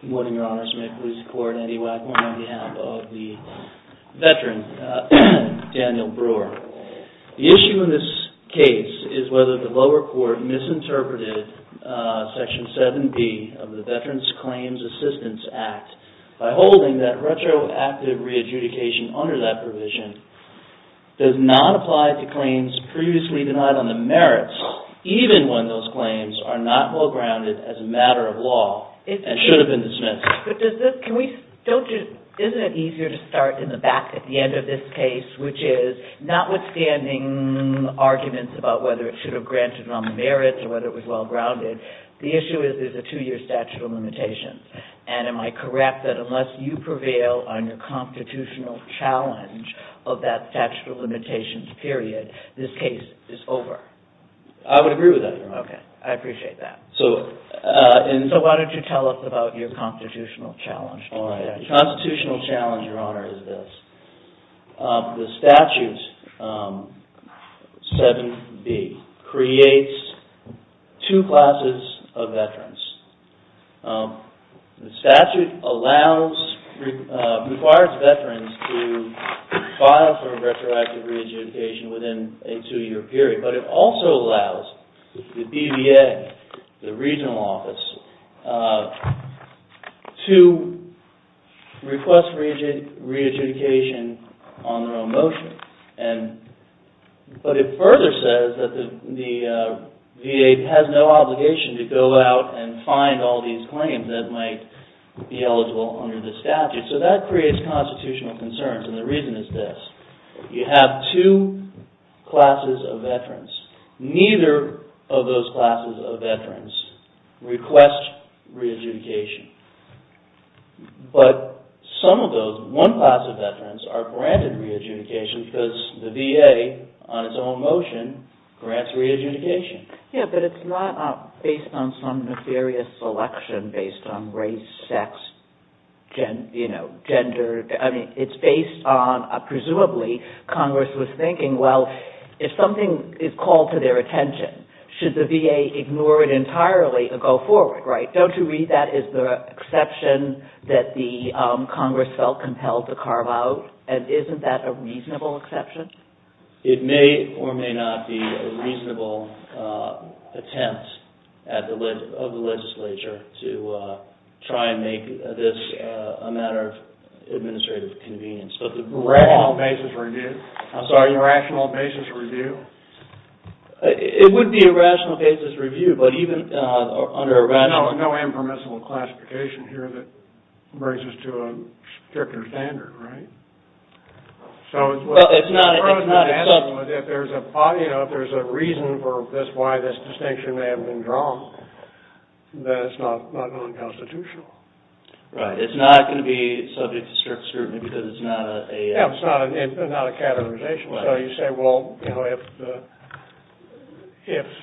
Good morning, Your Honors. May it please the Court, Andy Wagner on behalf of the veteran, Daniel Brewer. The issue in this case is whether the lower court misinterpreted Section 7B of the Veterans Claims Assistance Act by holding that retroactive re-adjudication under that provision does not apply to claims previously denied on the merits, even when those claims are not well-grounded as a matter of law and should have been dismissed. Isn't it easier to start in the back at the end of this case, which is notwithstanding arguments about whether it should have been granted on the merits or whether it was well-grounded, The issue is there's a two-year statute of limitations, and am I correct that unless you prevail on your constitutional challenge of that statute of limitations period, this case is over? I would agree with that, Your Honor. Okay. I appreciate that. So, why don't you tell us about your constitutional challenge? All right. The constitutional challenge, Your Honor, is this. The statute 7B creates two classes of veterans. The statute requires veterans to file for retroactive re-adjudication within a two-year statute. It says that the VA has no obligation to go out and find all these claims that might be eligible under the statute, so that creates constitutional concerns, and the reason is this. You have two classes of veterans. Neither of those classes of veterans request re-adjudication, but some of those, one class of veterans are granted re-adjudication because the VA, on its own motion, grants re-adjudication. Yeah, but it's not based on some nefarious selection based on race, sex, gender. I mean, it's based on presumably Congress was thinking, well, if something is called to their attention, should the VA ignore it entirely and go forward, right? Don't you read that as the exception that Congress felt compelled to carve out, and isn't that a reasonable exception? It may or may not be a reasonable attempt of the legislature to try and make this a matter of administrative convenience. A rational basis review? I'm sorry? A rational basis review? It would be a rational basis review, but even under a rational... There's no impermissible classification here that brings us to a stricter standard, right? Well, it's not... If there's a reason for this, why this distinction may have been drawn, then it's not non-constitutional. Right, it's not going to be subject to strict scrutiny because it's not a... So you say, well, if,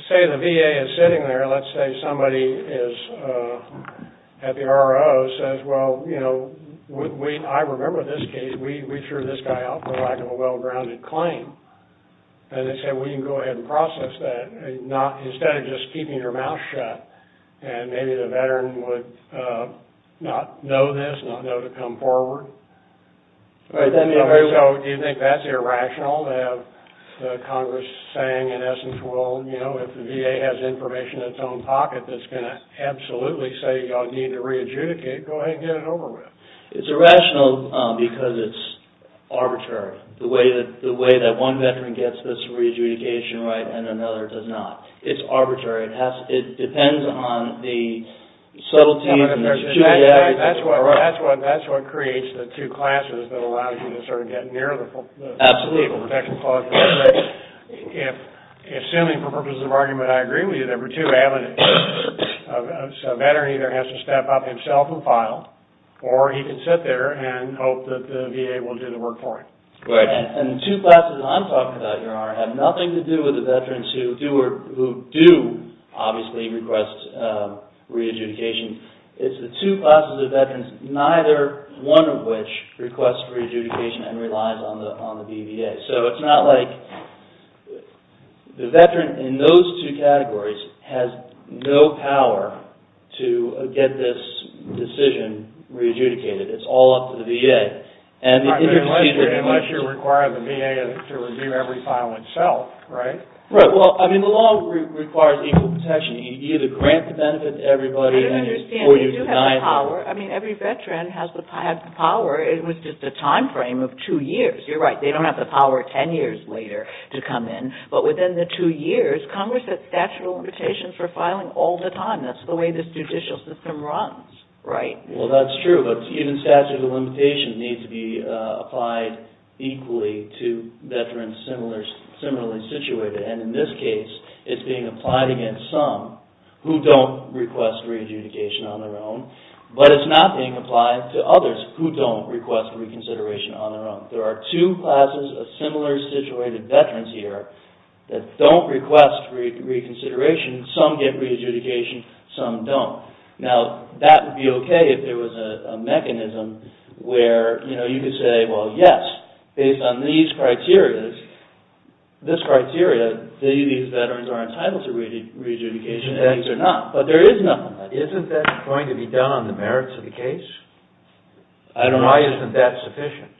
say, the VA is sitting there, let's say somebody is at the RO says, well, you know, I remember this case. We threw this guy out for lack of a well-grounded claim, and they say, well, you can go ahead and process that instead of just keeping your mouth shut, and maybe the veteran would not know this, not know to come forward. So do you think that's irrational to have Congress saying, in essence, well, you know, if the VA has information in its own pocket that's going to absolutely say you all need to re-adjudicate, go ahead and get it over with? It's irrational because it's arbitrary. The way that one veteran gets this re-adjudication right and another does not. It's arbitrary. It depends on the subtleties and the... That's what creates the two classes that allow you to sort of get near the... Absolutely. Assuming, for purposes of argument, I agree with you, there were two avenues. A veteran either has to step up himself and file, or he can sit there and hope that the VA will do the work for him. And the two classes I'm talking about here have nothing to do with the veterans who do obviously request re-adjudication. It's the two classes of veterans, neither one of which requests re-adjudication and relies on the BVA. So it's not like the veteran in those two categories has no power to get this decision re-adjudicated. It's all up to the VA. Unless you require the VA to review every file itself, right? Right. Well, I mean, the law requires equal protection. You either grant the benefit to everybody, or you deny the... They do have the power. I mean, every veteran has the power. It was just a time frame of two years. You're right. They don't have the power ten years later to come in. But within the two years, Congress has statute of limitations for filing all the time. That's the way this judicial system runs. Right. Well, that's true. But even statute of limitations needs to be applied equally to veterans similarly situated. And in this case, it's being applied against some who don't request re-adjudication on their own. But it's not being applied to others who don't request re-consideration on their own. There are two classes of similarly situated veterans here that don't request re-consideration. Some get re-adjudication. Some don't. Now, that would be okay if there was a mechanism where you could say, well, yes, based on these criteria, these veterans are entitled to re-adjudication and these are not. But there is nothing like that. Isn't that going to be done on the merits of the case? I don't know. Why isn't that sufficient?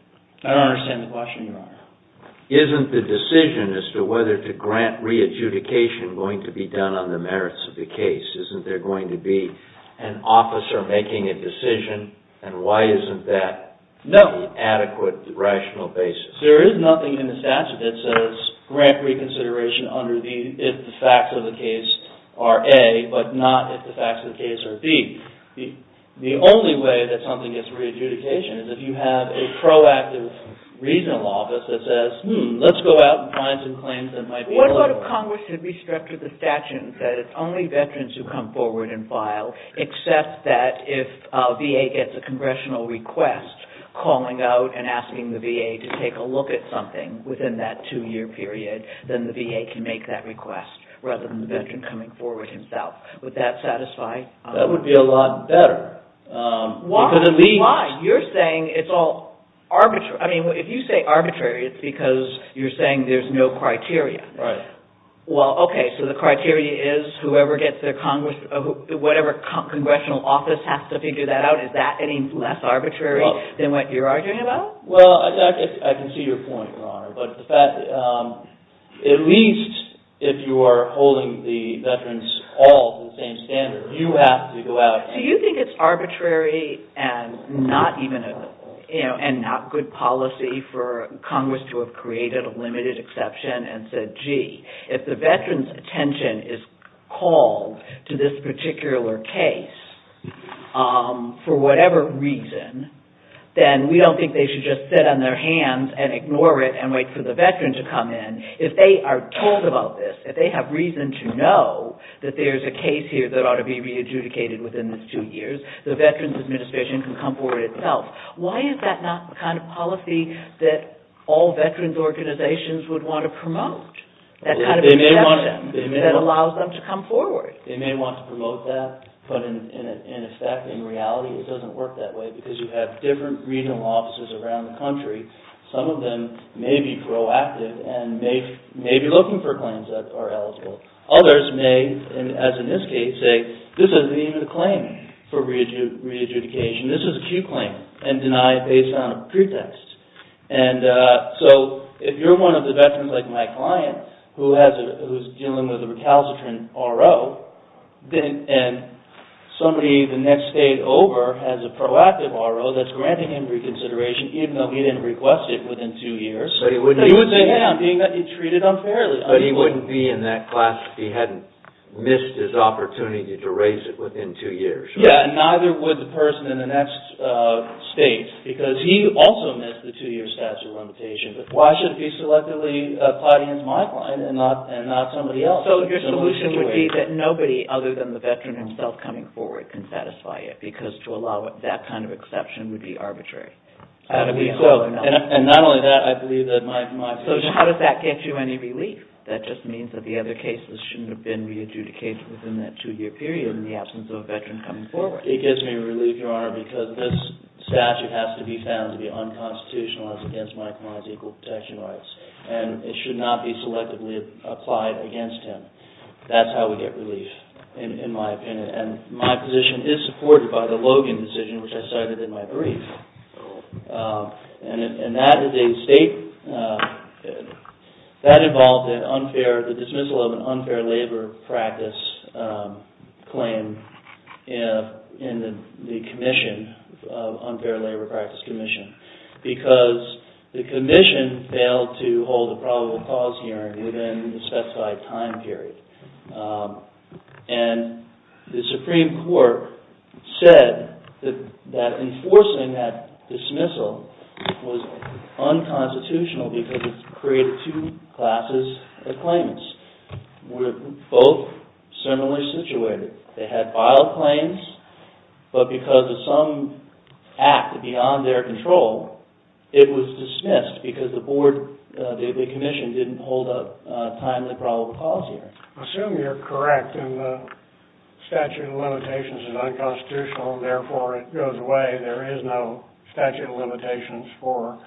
I don't understand the question, Your Honor. Isn't the decision as to whether to grant re-adjudication going to be done on the merits of the case? Isn't there going to be an officer making a decision? And why isn't that an adequate, rational basis? There is nothing in the statute that says grant re-consideration if the facts of the case are A, but not if the facts of the case are B. The only way that something gets re-adjudication is if you have a proactive regional office that says, hmm, let's go out and find some claims that might be eligible. What about if Congress had restructured the statute and said it's only veterans who come forward and file, except that if VA gets a congressional request calling out and asking the VA to take a look at something within that two-year period, then the VA can make that request rather than the veteran coming forward himself. Would that satisfy? That would be a lot better. Why? You're saying it's all arbitrary. If you say arbitrary, it's because you're saying there's no criteria. Right. Well, okay, so the criteria is whoever gets their Congress, whatever congressional office has to figure that out, is that any less arbitrary than what you're arguing about? Well, I can see your point, Your Honor, but at least if you are holding the veterans all to the same standard, you have to go out and- If the veterans' attention is called to this particular case for whatever reason, then we don't think they should just sit on their hands and ignore it and wait for the veteran to come in. If they are told about this, if they have reason to know that there's a case here that ought to be re-adjudicated within this two years, the Veterans Administration can come forward itself. Why is that not the kind of policy that all veterans' organizations would want to promote? That allows them to come forward. They may want to promote that, but in effect, in reality, it doesn't work that way because you have different regional offices around the country. Some of them may be proactive and may be looking for claims that are eligible. Others may, as in this case, say this isn't even a claim for re-adjudication. This is an acute claim and deny it based on a pretext. If you're one of the veterans, like my client, who is dealing with a recalcitrant RO, and somebody the next day over has a proactive RO that's granting him reconsideration even though he didn't request it within two years, he would say, hey, I'm being treated unfairly. But he wouldn't be in that class if he hadn't missed his opportunity to raise it within two years. Yeah, and neither would the person in the next state because he also missed the two-year statute limitation. But why should it be selectively applied against my client and not somebody else? So your solution would be that nobody other than the veteran himself coming forward can satisfy it because to allow that kind of exception would be arbitrary. And not only that, I believe that my client... So how does that get you any relief? That just means that the other cases shouldn't have been re-adjudicated within that two-year period in the absence of a veteran coming forward. It gives me relief, Your Honor, because this statute has to be found to be unconstitutional as against my client's equal protection rights. And it should not be selectively applied against him. That's how we get relief, in my opinion. And my position is supported by the Logan decision, which I cited in my brief. And that is a state... That involved the dismissal of an unfair labor practice claim in the commission, unfair labor practice commission, because the commission failed to hold a probable cause hearing within the specified time period. And the Supreme Court said that enforcing that dismissal was unconstitutional because it created two classes of claimants. They were both similarly situated. They had filed claims, but because of some act beyond their control, it was dismissed because the board, the commission, didn't hold a timely probable cause hearing. I assume you're correct in the statute of limitations is unconstitutional, and therefore it goes away. There is no statute of limitations for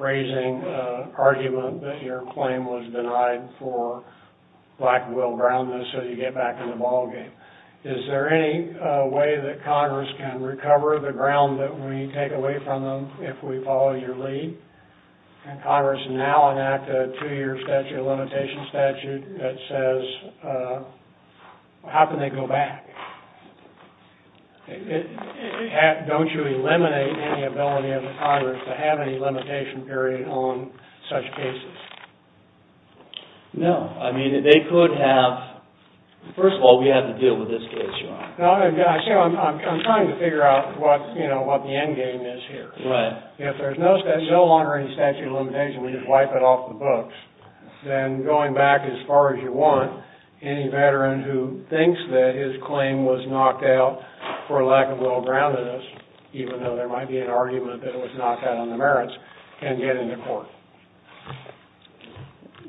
raising an argument that your claim was denied for lack of real groundness so you get back in the ballgame. Is there any way that Congress can recover the ground that we take away from them if we follow your lead? Can Congress now enact a two-year statute of limitations statute that says, how can they go back? Don't you eliminate any ability of the Congress to have any limitation period on such cases? No. I mean, they could have. First of all, we have to deal with this case, Your Honor. I'm trying to figure out what the end game is here. If there's no longer any statute of limitations, we just wipe it off the books. Then going back as far as you want, any veteran who thinks that his claim was knocked out for lack of real groundedness, even though there might be an argument that it was knocked out on the merits, can get into court.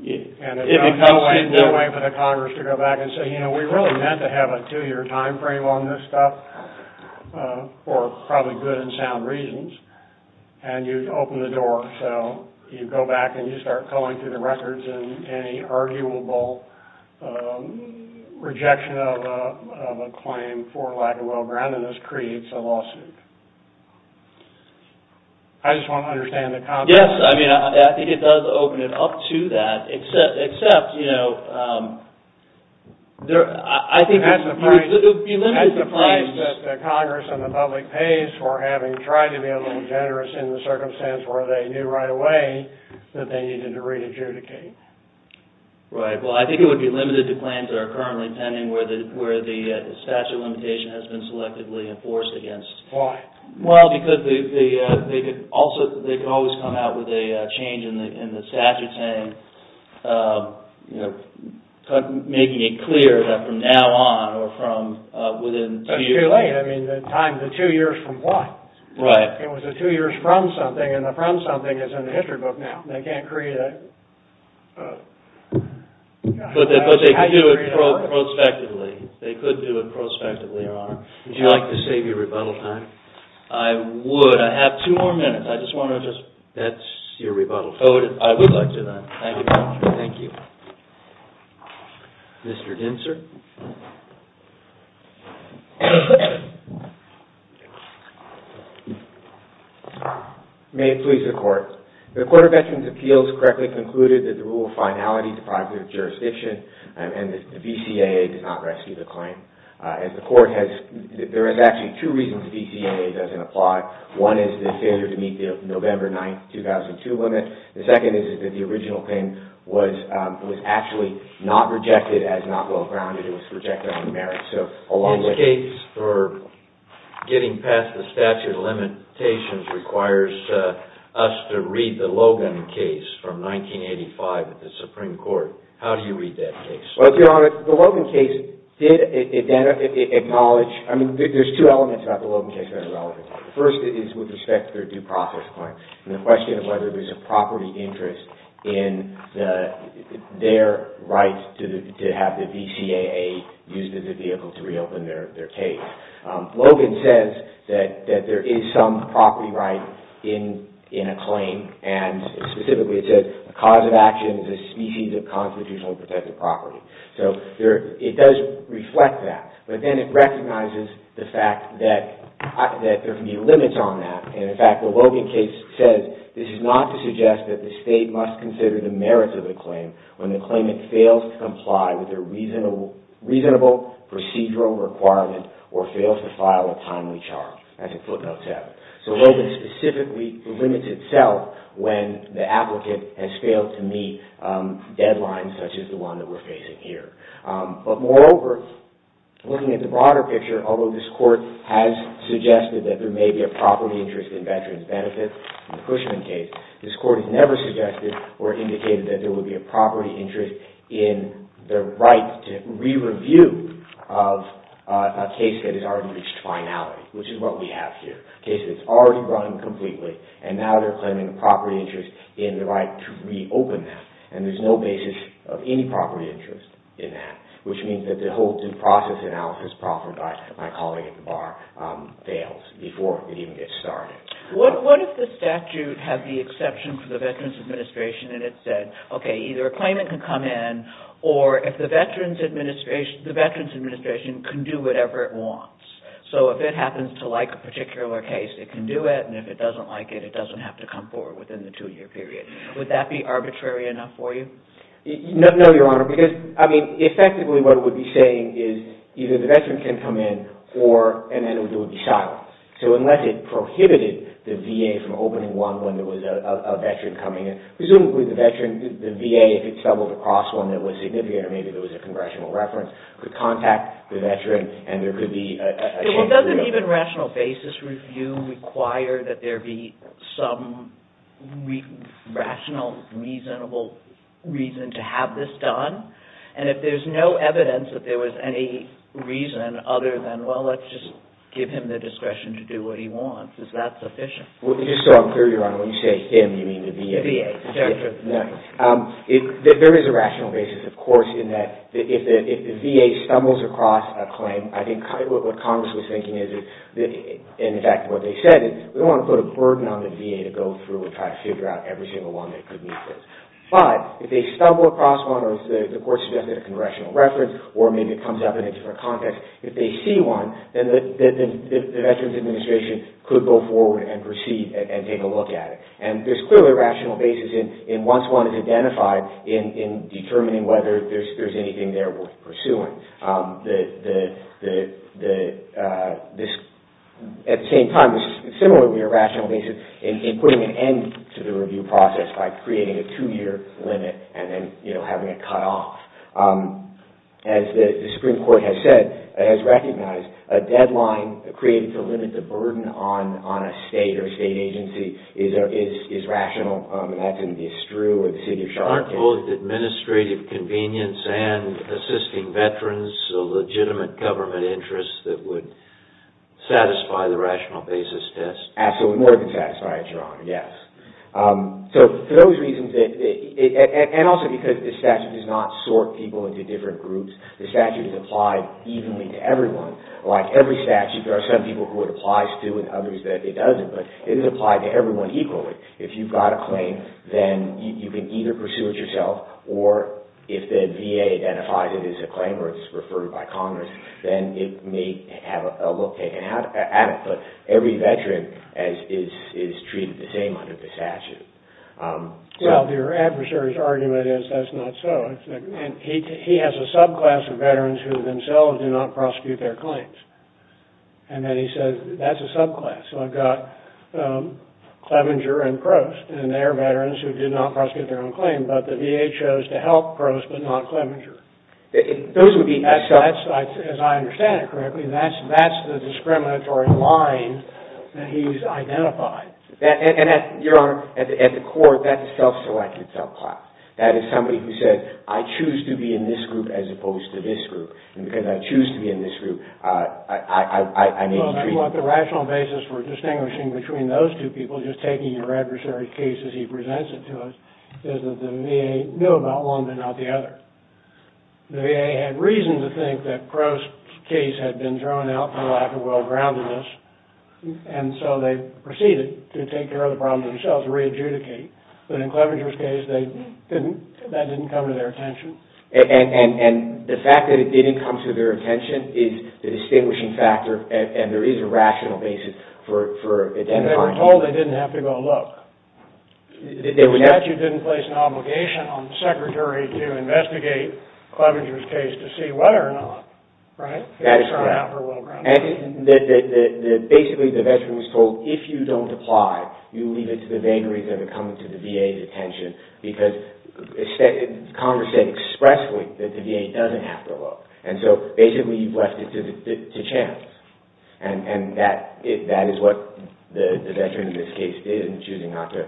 And it would be a long way for the Congress to go back and say, you know, we really meant to have a two-year time frame on this stuff for probably good and sound reasons. And you open the door, so you go back and you start calling through the records and any arguable rejection of a claim for lack of real groundedness creates a lawsuit. I just want to understand the context. Yes, I mean, I think it does open it up to that, except, you know, I think it would be limited to five years. That's the price that the Congress and the public pays for having tried to be a little generous in the circumstance where they knew right away that they needed to re-adjudicate. Right. Well, I think it would be limited to claims that are currently pending where the statute of limitation has been selectively enforced against. Why? Well, because they could always come out with a change in the statute saying, you know, making it clear that from now on or from within two years. That's too late. I mean, the two years from what? Right. It was the two years from something, and the from something is in the history book now. They can't create a... But they could do it prospectively. They could do it prospectively, Your Honor. Would you like to save your rebuttal time? I would. I have two more minutes. I just want to just... That's your rebuttal. Oh, I would like to do that. Thank you, Your Honor. Thank you. Mr. Dinser. May it please the Court. The Court of Veterans' Appeals correctly concluded that the rule of finality is a product of jurisdiction and the VCAA does not rescue the claim. As the Court has... There is actually two reasons the VCAA doesn't apply. One is the failure to meet the November 9, 2002 limit. The second is that the original claim was actually not rejected as not well-grounded. It was rejected on merit. So along with... This case for getting past the statute of limitations requires us to read the Logan case from 1985 at the Supreme Court. How do you read that case? Well, Your Honor, the Logan case did acknowledge... I mean, there's two elements about the Logan case that are relevant. The first is with respect to their due process claim and the question of whether there's a property interest in their right to have the VCAA used as a vehicle to reopen their case. Logan says that there is some property right in a claim and specifically it says the cause of action is a species of constitutionally protected property. It does reflect that, but then it recognizes the fact that there can be limits on that. In fact, the Logan case says, this is not to suggest that the State must consider the merits of the claim when the claimant fails to comply with a reasonable procedural requirement or fails to file a timely charge, as it footnotes out. So Logan specifically limits itself when the applicant has failed to meet deadlines such as the one that we're facing here. But moreover, looking at the broader picture, although this Court has suggested that there may be a property interest in veterans' benefits in the Cushman case, this Court has never suggested or indicated that there would be a property interest in their right to re-review of a case that has already reached finality, which is what we have here. A case that's already run completely and now they're claiming a property interest in the right to reopen that. And there's no basis of any property interest in that, which means that the whole due process analysis proffered by my colleague at the bar fails before it even gets started. What if the statute had the exception for the Veterans Administration and it said, okay, either a claimant can come in, or if the Veterans Administration can do whatever it wants. So if it happens to like a particular case, it can do it, and if it doesn't like it, it doesn't have to come forward within the two-year period. Would that be arbitrary enough for you? No, Your Honor, because, I mean, effectively what it would be saying is either the veteran can come in and then it would be silenced. So unless it prohibited the VA from opening one when there was a veteran coming in, presumably the VA, if it's doubled across one that was significant or maybe there was a congressional reference, could contact the veteran and there could be a change to review. So doesn't even rational basis review require that there be some rational, reasonable reason to have this done? And if there's no evidence that there was any reason other than, well, let's just give him the discretion to do what he wants, is that sufficient? Well, just so I'm clear, Your Honor, when you say him, you mean the VA? VA. There is a rational basis, of course, in that if the VA stumbles across a claim, I think what Congress was thinking is that, in fact, what they said is we don't want to put a burden on the VA to go through and try to figure out every single one that could meet this. But if they stumble across one or the court suggested a congressional reference or maybe it comes up in a different context, if they see one, then the Veterans Administration could go forward and proceed and take a look at it. And there's clearly a rational basis in once one is identified in determining whether there's anything there worth pursuing. At the same time, this is similar to your rational basis in putting an end to the review process by creating a two-year limit and then having it cut off. As the Supreme Court has said, has recognized, a deadline created to limit the burden on a state or a state agency is rational, and that's in DeStru or the City of Charleston. Aren't both administrative convenience and assisting veterans a legitimate government interest that would satisfy the rational basis test? Absolutely more than satisfied, Your Honor, yes. So for those reasons, and also because the statute does not sort people into different groups, the statute is applied evenly to everyone. Like every statute, there are some people who it applies to and others that it doesn't, but it is applied to everyone equally. If you've got a claim, then you can either pursue it yourself or if the VA identifies it as a claim or it's referred by Congress, then it may have a look taken at it. But every veteran is treated the same under the statute. Well, the adversary's argument is that's not so. He has a subclass of veterans who themselves do not prosecute their claims. And then he says, that's a subclass. So I've got Clevenger and Prost, and they're veterans who did not prosecute their own claim, but the VA chose to help Prost but not Clevenger. As I understand it correctly, that's the discriminatory line that he's identified. And, Your Honor, at the core, that's a self-selected subclass. That is somebody who said, I choose to be in this group as opposed to this group. And because I choose to be in this group, I may be treated differently. Well, the rational basis for distinguishing between those two people, and just taking your adversary's case as he presents it to us, is that the VA knew about one but not the other. The VA had reason to think that Prost's case had been thrown out for lack of well-groundedness, and so they proceeded to take care of the problem themselves, re-adjudicate. But in Clevenger's case, that didn't come to their attention. And the fact that it didn't come to their attention is the distinguishing factor, and there is a rational basis for identifying. They were told they didn't have to go look. The statute didn't place an obligation on the secretary to investigate Clevenger's case to see whether or not it was thrown out for well-groundedness. Basically, the veteran was told, if you don't apply, you leave it to the vagaries of it coming to the VA's attention, because Congress said expressly that the VA doesn't have to look. And so, basically, you've left it to chance. And that is what the veteran in this case did in choosing not to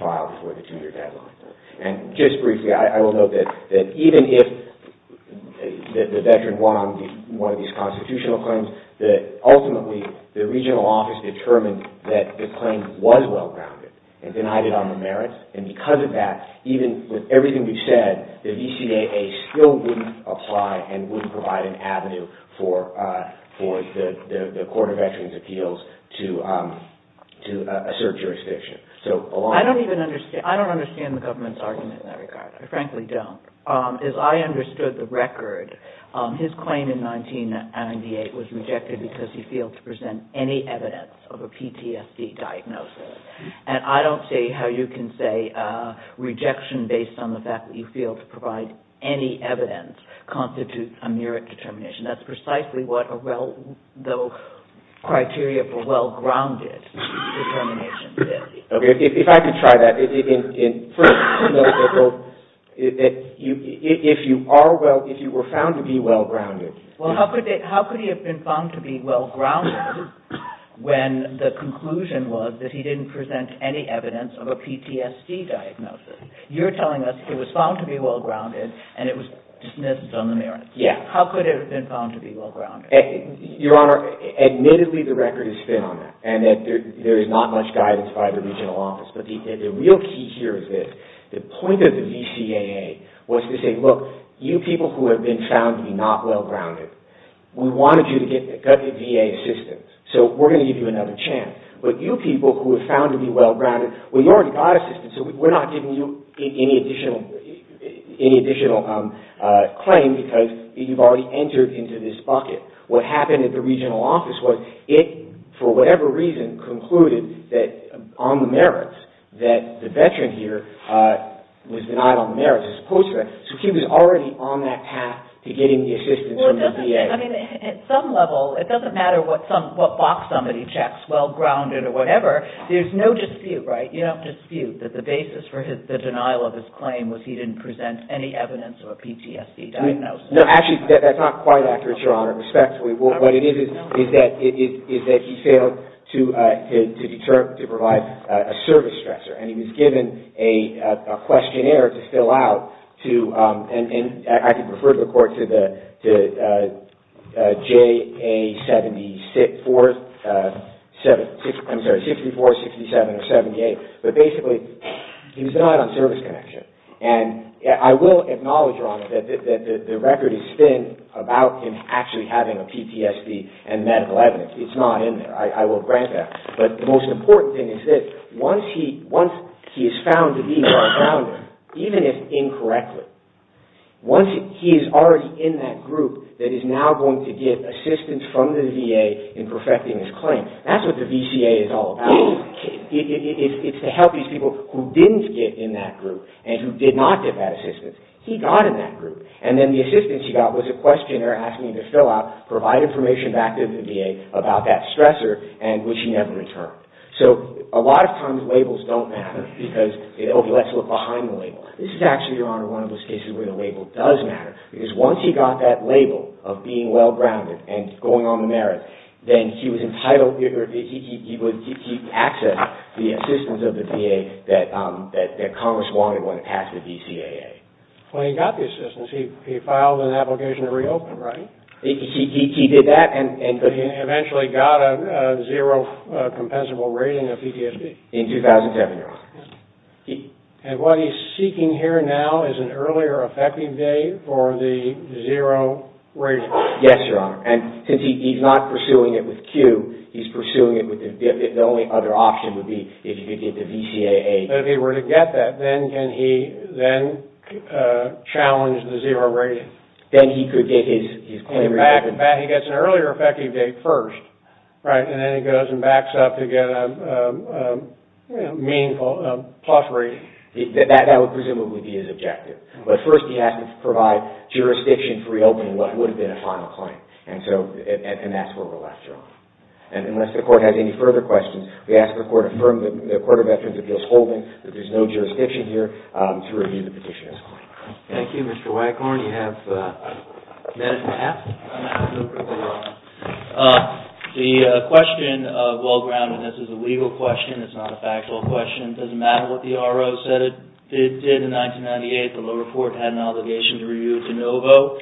file for the two-year deadline. And just briefly, I will note that even if the veteran won one of these constitutional claims, ultimately, the regional office determined that the claim was well-grounded and denied it on the merits, and because of that, even with everything we've said, the VCAA still wouldn't apply and wouldn't provide an avenue for the Court of Veterans' Appeals to assert jurisdiction. I don't even understand the government's argument in that regard. I frankly don't. As I understood the record, his claim in 1998 was rejected because he failed to present any evidence of a PTSD diagnosis. And I don't see how you can say rejection based on the fact that you failed to provide any evidence constitutes a merit determination. That's precisely what the criteria for well-grounded determination is. Okay, if I could try that. First, if you were found to be well-grounded... and you didn't present any evidence of a PTSD diagnosis, you're telling us it was found to be well-grounded and it was dismissed on the merits. Yes. How could it have been found to be well-grounded? Your Honor, admittedly, the record is thin on that and that there is not much guidance by the regional office, but the real key here is this. The point of the VCAA was to say, look, you people who have been found to be not well-grounded, we wanted you to get VA assistance, so we're going to give you another chance. But you people who were found to be well-grounded, well, you already got assistance, so we're not giving you any additional claim because you've already entered into this bucket. What happened at the regional office was it, for whatever reason, concluded that on the merits that the veteran here was denied on the merits as opposed to that. So he was already on that path to getting the assistance from the VA. I mean, at some level, it doesn't matter what box somebody checks, well-grounded or whatever, there's no dispute, right? You don't dispute that the basis for the denial of his claim was he didn't present any evidence of a PTSD diagnosis. No, actually, that's not quite accurate, Your Honor, respectfully. What it is is that he failed to provide a service stressor and he was given a questionnaire to fill out to, and I could refer the court to the JA-74, I'm sorry, 64, 67, or 78, but basically, he was denied on service connection. And I will acknowledge, Your Honor, that the record is thin about him actually having a PTSD and medical evidence. It's not in there, I will grant that. But the most important thing is this, once he is found to be well-grounded, even if incorrectly, once he is already in that group that is now going to get assistance from the VA in perfecting his claim, that's what the VCA is all about. It's to help these people who didn't get in that group and who did not get that assistance. He got in that group and then the assistance he got was a questionnaire asking him to fill out, provide information back to the VA about that stressor and which he never returned. So, a lot of times, labels don't matter because, oh, let's look behind the label. This is actually, Your Honor, one of those cases where the label does matter because once he got that label of being well-grounded and going on the merits, then he was entitled, or he accessed the assistance of the VA that Congress wanted when it passed the VCAA. When he got the assistance, he filed an application to reopen, right? He did that and... He eventually got a zero compensable rating of PTSD. In 2010, Your Honor. And what he's seeking here now is an earlier effective date for the zero rating. Yes, Your Honor, and since he's not pursuing it with Q, he's pursuing it with the VIF. The only other option would be if he could get the VCAA. If he were to get that, then can he challenge the zero rating? Then he could get his claim... In fact, he gets an earlier effective date first, right? And then he goes and backs up to get a meaningful plus rating. That would presumably be his objective. But first, he has to provide jurisdiction for reopening what would have been a final claim, and that's where we're left, Your Honor. And unless the Court has any further questions, we ask the Court to affirm the Court of Veterans Appeals holding that there's no jurisdiction here to review the petition as a whole. Thank you, Mr. Wycorn. You have a minute and a half? I have a minute and a half, Your Honor. The question of well-groundedness is a legal question. It's not a factual question. It doesn't matter what the R.O. said it did in 1998. The lower court had an obligation to review it de novo,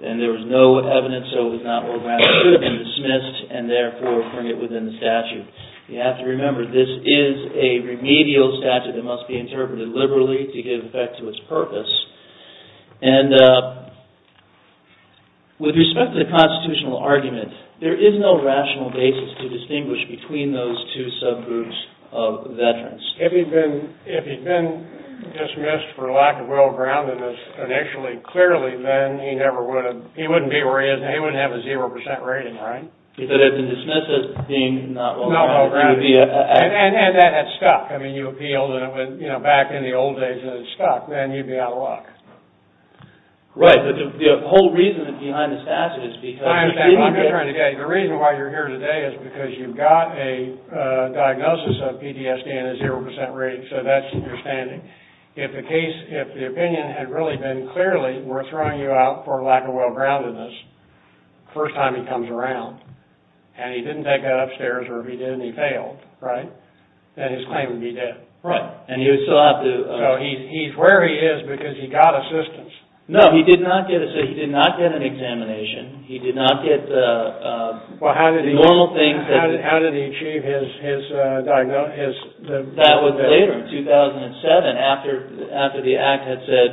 and there was no evidence, so it was not well-grounded. It should have been dismissed, and therefore bring it within the statute. You have to remember, this is a remedial statute that must be interpreted liberally to give effect to its purpose. And with respect to the constitutional argument, there is no rational basis to distinguish between those two subgroups of veterans. If he'd been dismissed for lack of well-groundedness initially, clearly, then he wouldn't be where he is now. He wouldn't have a 0% rating, right? If it had been dismissed as being not well-grounded. And that had stuck. I mean, you appealed back in the old days, and it stuck. Then you'd be out of luck. Right, but the whole reason behind the statute is because... I'm just trying to get at you. The reason why you're here today is because you've got a diagnosis of PTSD and a 0% rating, so that's your standing. If the case, if the opinion had really been clearly, we're throwing you out for lack of well-groundedness the first time he comes around, and he didn't take that upstairs, or if he did and he failed, right, then his claim would be dead. Right, and he would still have to... So he's where he is because he got assistance. No, he did not get an examination. He did not get the normal things that... How did he achieve his diagnosis? That was later, in 2007, after the Act had said,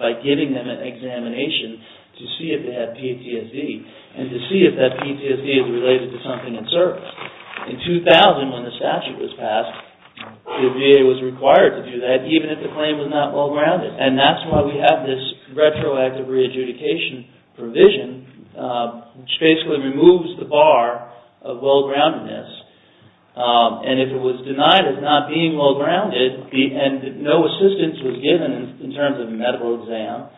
by giving them an examination to see if they had PTSD, and to see if that PTSD is related to something in service. In 2000, when the statute was passed, the VA was required to do that, even if the claim was not well-grounded, and that's why we have this retroactive re-adjudication provision, which basically removes the bar of well-groundedness, and if it was denied as not being well-grounded, and no assistance was given in terms of medical exam,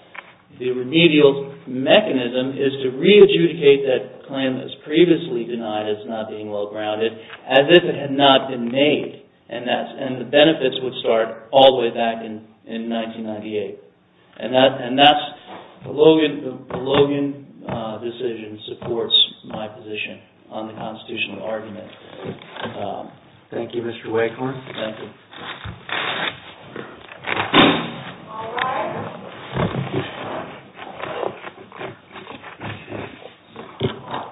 the remedial mechanism is to re-adjudicate that claim that was previously denied as not being well-grounded, as if it had not been made, and the benefits would start all the way back in 1998. And that's the Logan decision supports my position on the constitutional argument. Thank you, Mr. Wakehorn. Thank you.